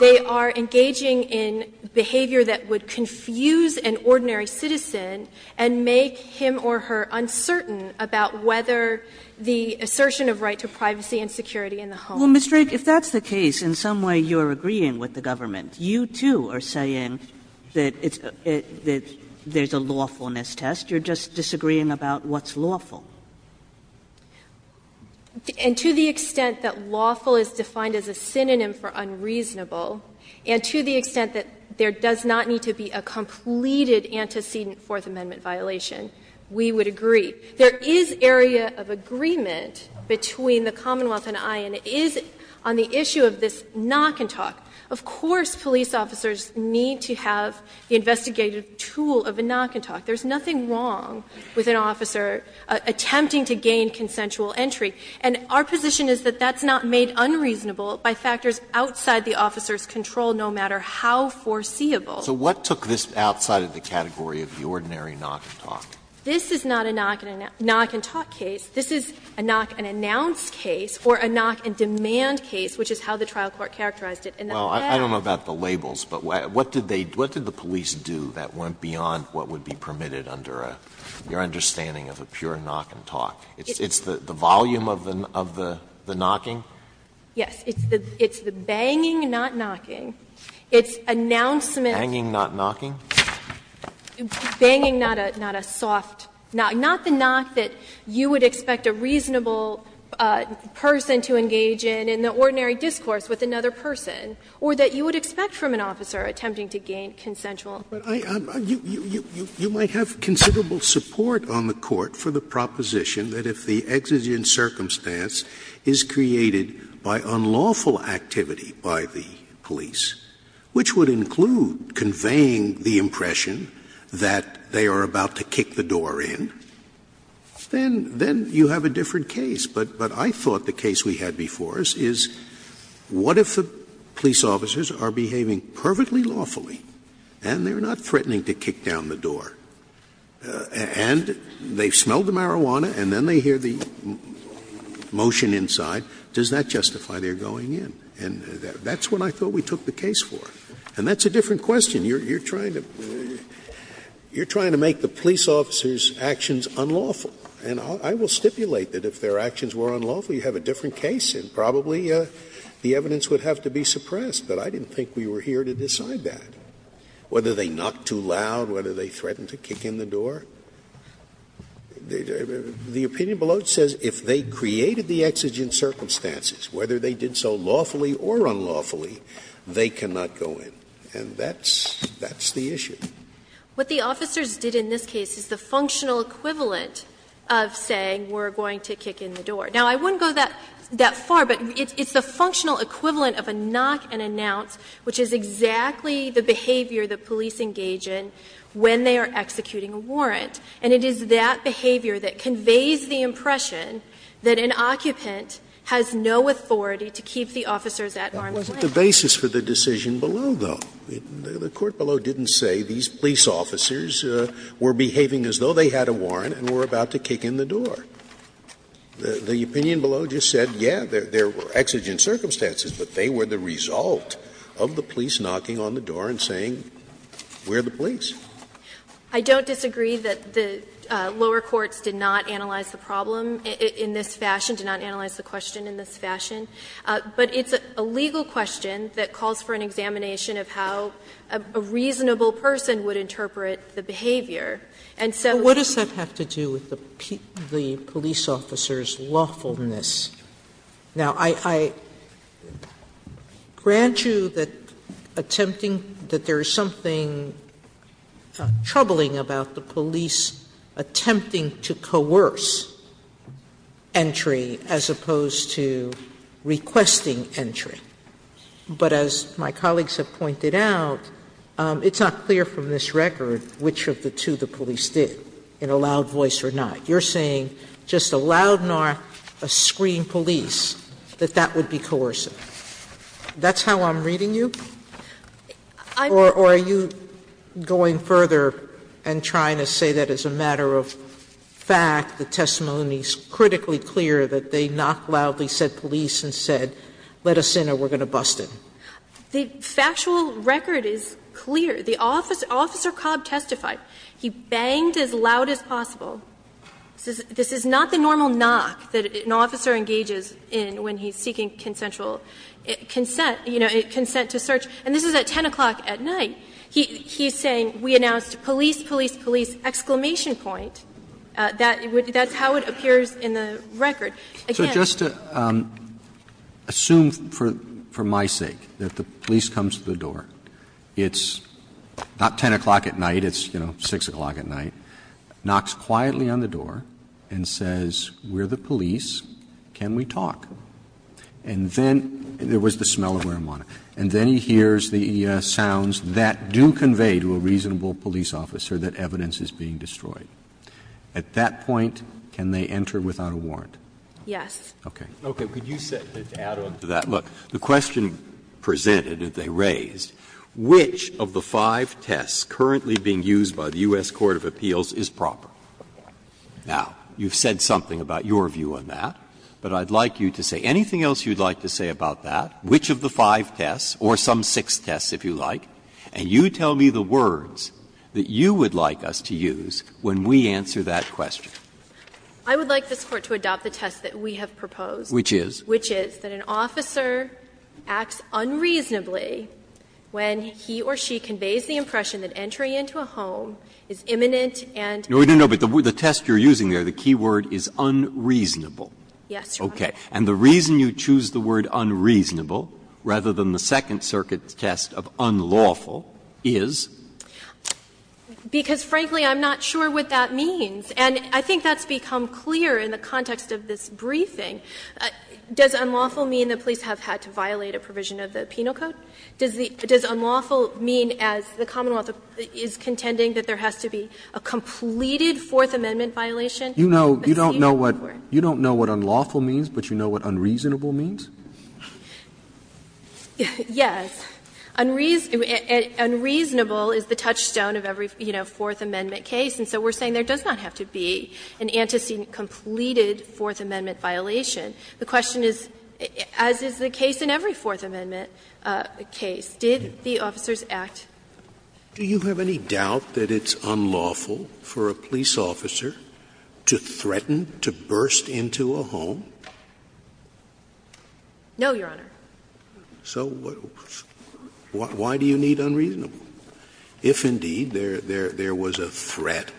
They are engaging in behavior that would confuse an ordinary citizen and make him or her uncertain about whether the assertion of right to privacy and security in the home. Kagan. Well, Ms. Drake, if that's the case, in some way you're agreeing with the government. You, too, are saying that it's, that there's a lawfulness test. You're just disagreeing about what's lawful. And to the extent that lawful is defined as a synonym for unreasonable, and to the extent that there does not need to be a completed antecedent Fourth Amendment violation, we would agree. There is area of agreement between the Commonwealth and I and it is on the issue of this knock and talk. Of course police officers need to have the investigative tool of a knock and talk. There's nothing wrong with an officer attempting to gain consensual entry. And our position is that that's not made unreasonable by factors outside the officer's control, no matter how foreseeable. So what took this outside of the category of the ordinary knock and talk? This is not a knock and talk case. This is a knock and announce case or a knock and demand case, which is how the trial court characterized it in the past. Well, I don't know about the labels, but what did they, what did the police do that permitted under a, your understanding of a pure knock and talk? It's the volume of the knocking? Yes. It's the banging, not knocking. It's announcement. Banging, not knocking? Banging, not a soft knock. Not the knock that you would expect a reasonable person to engage in, in the ordinary discourse with another person, or that you would expect from an officer attempting to gain consensual. Scalia. You might have considerable support on the Court for the proposition that if the exigent circumstance is created by unlawful activity by the police, which would include conveying the impression that they are about to kick the door in, then you have a different case. But I thought the case we had before us is what if the police officers are behaving perfectly lawfully and they are not threatening to kick down the door, and they smell the marijuana and then they hear the motion inside, does that justify their going in? And that's what I thought we took the case for. And that's a different question. You're trying to make the police officers' actions unlawful. And I will stipulate that if their actions were unlawful, you have a different case, and probably the evidence would have to be suppressed. But I didn't think we were here to decide that. Whether they knocked too loud, whether they threatened to kick in the door, the opinion below says if they created the exigent circumstances, whether they did so lawfully or unlawfully, they cannot go in. And that's the issue. What the officers did in this case is the functional equivalent of saying we're going to kick in the door. Now, I wouldn't go that far, but it's the functional equivalent of a knock and announce, which is exactly the behavior the police engage in when they are executing a warrant. And it is that behavior that conveys the impression that an occupant has no authority to keep the officers at arm's length. Scalia. But what's the basis for the decision below, though? The court below didn't say these police officers were behaving as though they had a warrant and were about to kick in the door. The opinion below just said, yes, there were exigent circumstances, but they were the result of the police knocking on the door and saying, we're the police. I don't disagree that the lower courts did not analyze the problem in this fashion, did not analyze the question in this fashion. But it's a legal question that calls for an examination of how a reasonable person would interpret the behavior. of how a reasonable person would interpret the behavior. Sotomayor. The police officers' lawfulness. Now, I grant you that attempting, that there is something troubling about the police attempting to coerce entry as opposed to requesting entry. But as my colleagues have pointed out, it's not clear from this record which of the two the police did, in a loud voice or not. You're saying just a loud knock, a scream, police, that that would be coercive. That's how I'm reading you? Or are you going further and trying to say that as a matter of fact, the testimony is critically clear that they knocked loudly, said police, and said, let us in or we're going to bust it? The factual record is clear. The officer, Officer Cobb, testified. He banged as loud as possible. This is not the normal knock that an officer engages in when he's seeking consensual consent, you know, consent to search. And this is at 10 o'clock at night. He's saying, we announced police, police, police, exclamation point. That's how it appears in the record. Again. Roberts. So just to assume for my sake that the police comes to the door. It's not 10 o'clock at night, it's, you know, 6 o'clock at night. Knocks quietly on the door and says, we're the police, can we talk? And then there was the smell of marijuana. And then he hears the sounds that do convey to a reasonable police officer that evidence is being destroyed. At that point, can they enter without a warrant? Yes. Okay. Breyer. Okay. Could you add on to that? Look, the question presented that they raised, which of the five tests currently being used by the U.S. Court of Appeals is proper? Now, you've said something about your view on that, but I'd like you to say anything else you'd like to say about that, which of the five tests, or some six tests, if you like, and you tell me the words that you would like us to use when we answer that question. I would like this Court to adopt the test that we have proposed. Which is? Which is that an officer acts unreasonably when he or she conveys the impression that entry into a home is imminent and No, no, no, but the test you're using there, the key word is unreasonable. Yes, Your Honor. Okay. And the reason you choose the word unreasonable rather than the Second Circuit's test of unlawful is? Because, frankly, I'm not sure what that means. And I think that's become clear in the context of this briefing. Does unlawful mean the police have had to violate a provision of the penal code? Does unlawful mean, as the Commonwealth is contending, that there has to be a completed Fourth Amendment violation? You know, you don't know what unlawful means, but you know what unreasonable means? Yes. Unreasonable is the touchstone of every, you know, Fourth Amendment case. And so we're saying there does not have to be an antecedent completed Fourth Amendment violation. The question is, as is the case in every Fourth Amendment case, did the officers act? Do you have any doubt that it's unlawful for a police officer to threaten to burst into a home? No, Your Honor. So why do you need unreasonable? If, indeed, there was a threat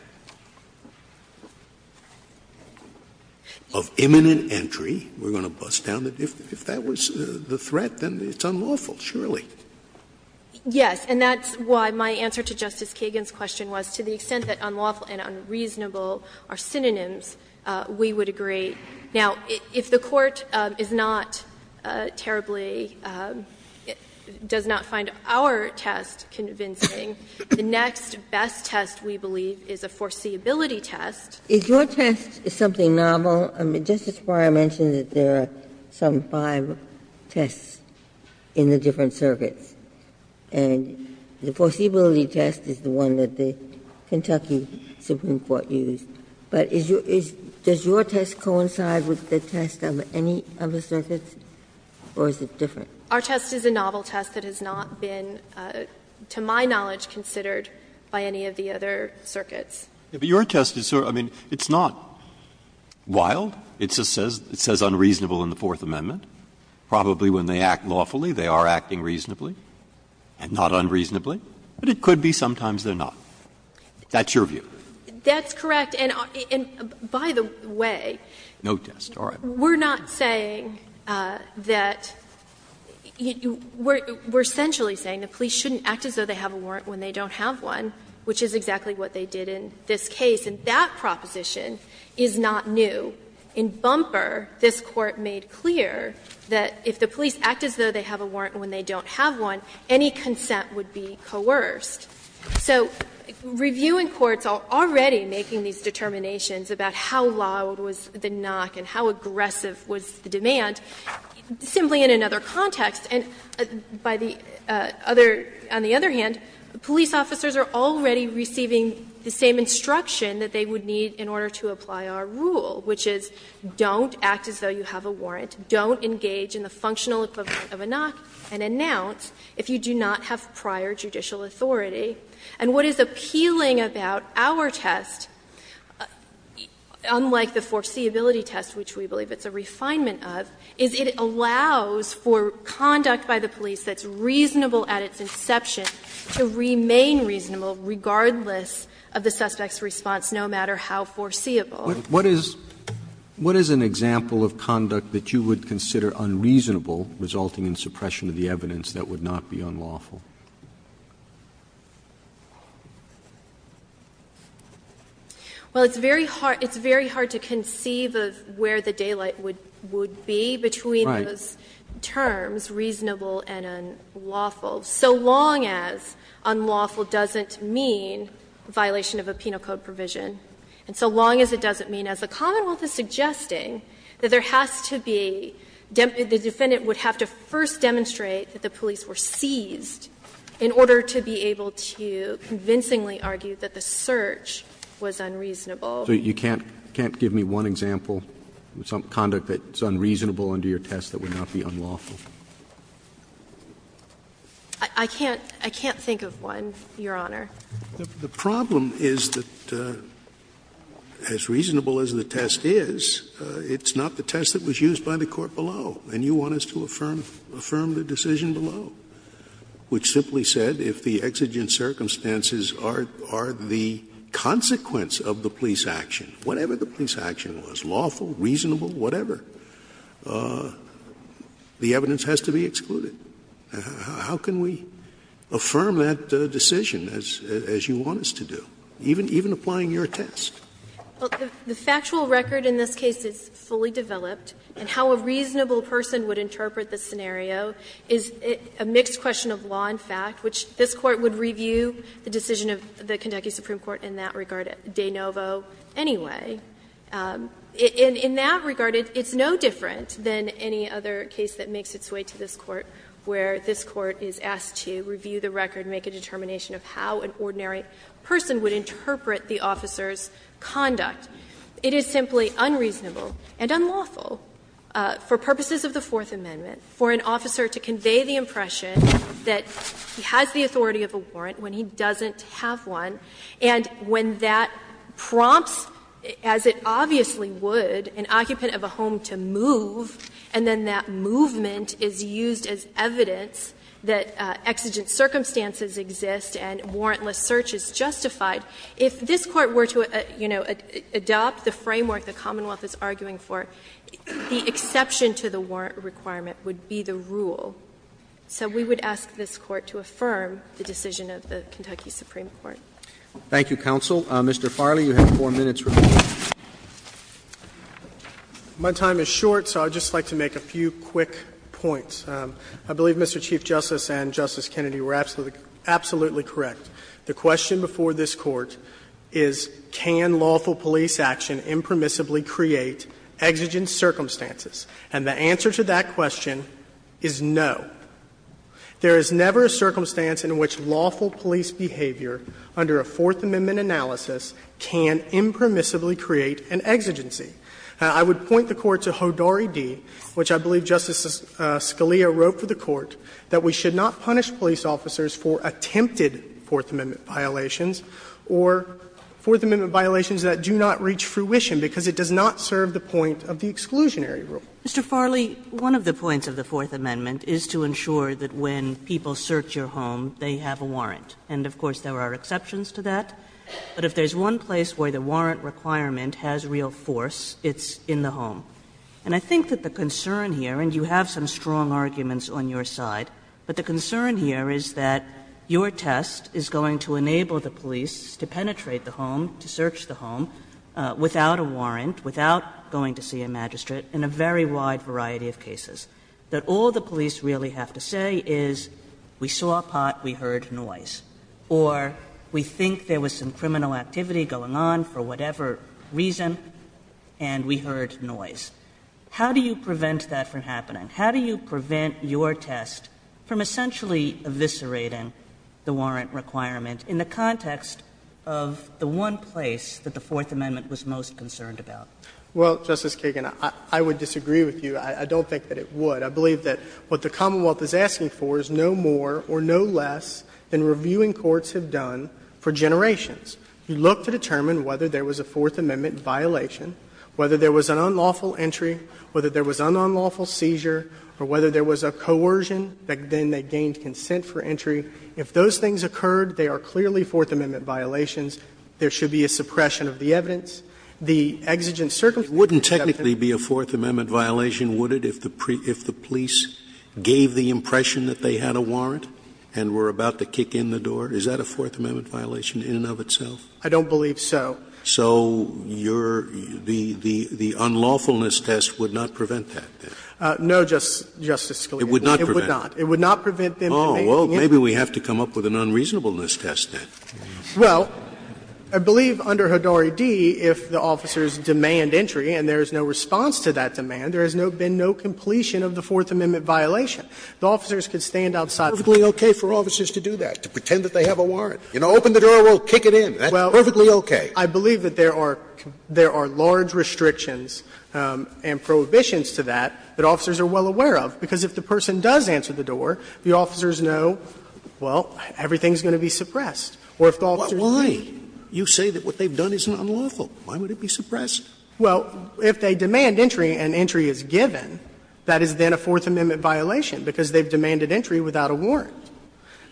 of imminent entry, we're going to bust down the difference. If that was the threat, then it's unlawful, surely. Yes. And that's why my answer to Justice Kagan's question was, to the extent that unlawful and unreasonable are synonyms, we would agree. Now, if the Court is not terribly – does not find our test convincing, the next best test, we believe, is a foreseeability test. Is your test something novel? I mean, Justice Breyer mentioned that there are some five tests in the different circuits. And the foreseeability test is the one that the Kentucky Supreme Court used. But is your – does your test coincide with the test of any of the circuits, or is it different? Our test is a novel test that has not been, to my knowledge, considered by any of the other circuits. But your test is – I mean, it's not wild. It just says unreasonable in the Fourth Amendment. Probably when they act lawfully, they are acting reasonably, and not unreasonably. But it could be sometimes they're not. That's your view. That's correct. And by the way, we're not saying that – we're essentially saying the police shouldn't act as though they have a warrant when they don't have one, which is exactly what they did in this case, and that proposition is not new. In Bumper, this Court made clear that if the police act as though they have a warrant when they don't have one, any consent would be coerced. So review in courts are already making these determinations about how loud was the knock and how aggressive was the demand, simply in another context. And by the other – on the other hand, police officers are already receiving the same instruction that they would need in order to apply our rule, which is don't act as though you have a warrant, don't engage in the functional equivalent of a knock, and announce if you do not have prior judicial authority. And what is appealing about our test, unlike the foreseeability test, which we believe it's a refinement of, is it allows for conduct by the police that's reasonable at its inception to remain reasonable regardless of the suspect's response, no matter how foreseeable. Roberts. What is – what is an example of conduct that you would consider unreasonable resulting in suppression of the evidence that would not be unlawful? Well, it's very hard – it's very hard to conceive of where the daylight would be between those terms, reasonable and unlawful, so long as unlawful doesn't mean violation of a penal code provision, and so long as it doesn't mean, as the Commonwealth is suggesting, that there has to be – the defendant would have to first demonstrate that the police were seized in order to be able to convincingly argue that the search was unreasonable. So you can't – you can't give me one example of some conduct that's unreasonable under your test that would not be unlawful? I can't – I can't think of one, Your Honor. The problem is that, as reasonable as the test is, it's not the test that was used by the court below, and you want us to affirm the decision below, which simply said if the exigent circumstances are the consequence of the police action, whatever the police action was, lawful, reasonable, whatever, the evidence has to be excluded. How can we affirm that decision as you want us to do, even applying your test? Well, the factual record in this case is fully developed, and how a reasonable person would interpret the scenario is a mixed question of law and fact, which this Court would review the decision of the Kentucky Supreme Court in that regard de novo anyway. In that regard, it's no different than any other case that makes its way to this Court, where this Court is asked to review the record, make a determination of how an ordinary person would interpret the officer's conduct. It is simply unreasonable and unlawful for purposes of the Fourth Amendment for an officer to convey the impression that he has the authority of a warrant when he doesn't have one, and when that prompts, as it obviously would, an occupant of a home to move, and then that movement is used as evidence that exigent circumstances exist and warrantless search is justified. If this Court were to, you know, adopt the framework the Commonwealth is arguing for, the exception to the warrant requirement would be the rule. So we would ask this Court to affirm the decision of the Kentucky Supreme Court. Roberts. Thank you, counsel. Mr. Farley, you have 4 minutes remaining. My time is short, so I would just like to make a few quick points. I believe Mr. Chief Justice and Justice Kennedy were absolutely correct. The question before this Court is can lawful police action impermissibly create exigent circumstances? And the answer to that question is no. There is never a circumstance in which lawful police behavior under a Fourth Amendment analysis can impermissibly create an exigency. I would point the Court to Hodari D., which I believe Justice Scalia wrote for the Court, that we should not punish police officers for attempted Fourth Amendment violations or Fourth Amendment violations that do not reach fruition because it does not serve the point of the exclusionary rule. Mr. Farley, one of the points of the Fourth Amendment is to ensure that when people search your home, they have a warrant. And of course, there are exceptions to that. But if there is one place where the warrant requirement has real force, it's in the home. And I think that the concern here, and you have some strong arguments on your side, but the concern here is that your test is going to enable the police to penetrate the home, to search the home, without a warrant, without going to see a magistrate, in a very wide variety of cases. That all the police really have to say is, we saw a pot, we heard noise. Or we think there was some criminal activity going on for whatever reason, and we heard noise. How do you prevent that from happening? How do you prevent your test from essentially eviscerating the warrant requirement in the context of the one place that the Fourth Amendment was most concerned about? Well, Justice Kagan, I would disagree with you. I don't think that it would. I believe that what the Commonwealth is asking for is no more or no less than reviewing courts have done for generations. You look to determine whether there was a Fourth Amendment violation, whether there was an unlawful entry, whether there was an unlawful seizure, or whether there was a coercion, then they gained consent for entry. If those things occurred, they are clearly Fourth Amendment violations. There should be a suppression of the evidence. The exigent circumstances of the Fourth Amendment would not be a Fourth Amendment violation, would it, if the police gave the impression that they had a warrant and were about to kick in the door? Is that a Fourth Amendment violation in and of itself? I don't believe so. So your the unlawfulness test would not prevent that? No, Justice Scalia. It would not prevent it. It would not prevent them from doing anything. Oh, well, maybe we have to come up with an unreasonableness test, then. Well, I believe under Hodori D., if the officers demand entry and there is no response to that demand, there has been no completion of the Fourth Amendment violation. The officers could stand outside. It's perfectly okay for officers to do that, to pretend that they have a warrant. You know, open the door, we'll kick it in. That's perfectly okay. I believe that there are large restrictions and prohibitions to that that officers are well aware of, because if the person does answer the door, the officers know, well, everything is going to be suppressed. Or if the officers do not. Why? You say that what they've done is unlawful. Why would it be suppressed? Well, if they demand entry and entry is given, that is then a Fourth Amendment violation, because they've demanded entry without a warrant.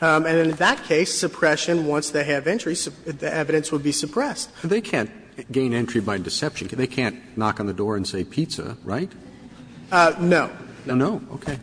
And in that case, suppression, once they have entry, the evidence would be suppressed. But they can't gain entry by deception. They can't knock on the door and say, pizza, right? No. No. Okay.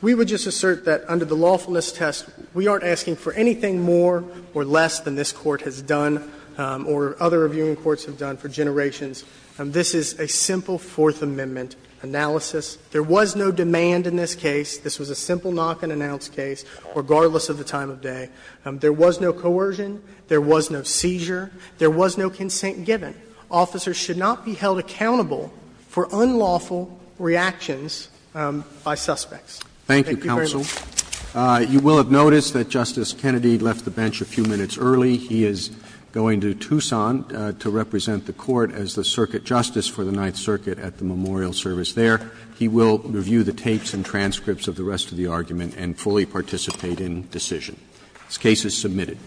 We would just assert that under the lawfulness test, we aren't asking for anything more or less than this Court has done or other reviewing courts have done for generations. This is a simple Fourth Amendment analysis. There was no demand in this case. This was a simple knock-and-announce case, regardless of the time of day. There was no coercion. There was no seizure. There was no consent given. Officers should not be held accountable for unlawful reactions by suspects. Thank you very much. Roberts. Roberts. You will have noticed that Justice Kennedy left the bench a few minutes early. He is going to Tucson to represent the Court as the circuit justice for the Ninth Circuit at the memorial service there. He will review the tapes and transcripts of the rest of the argument and fully participate in decision. This case is submitted.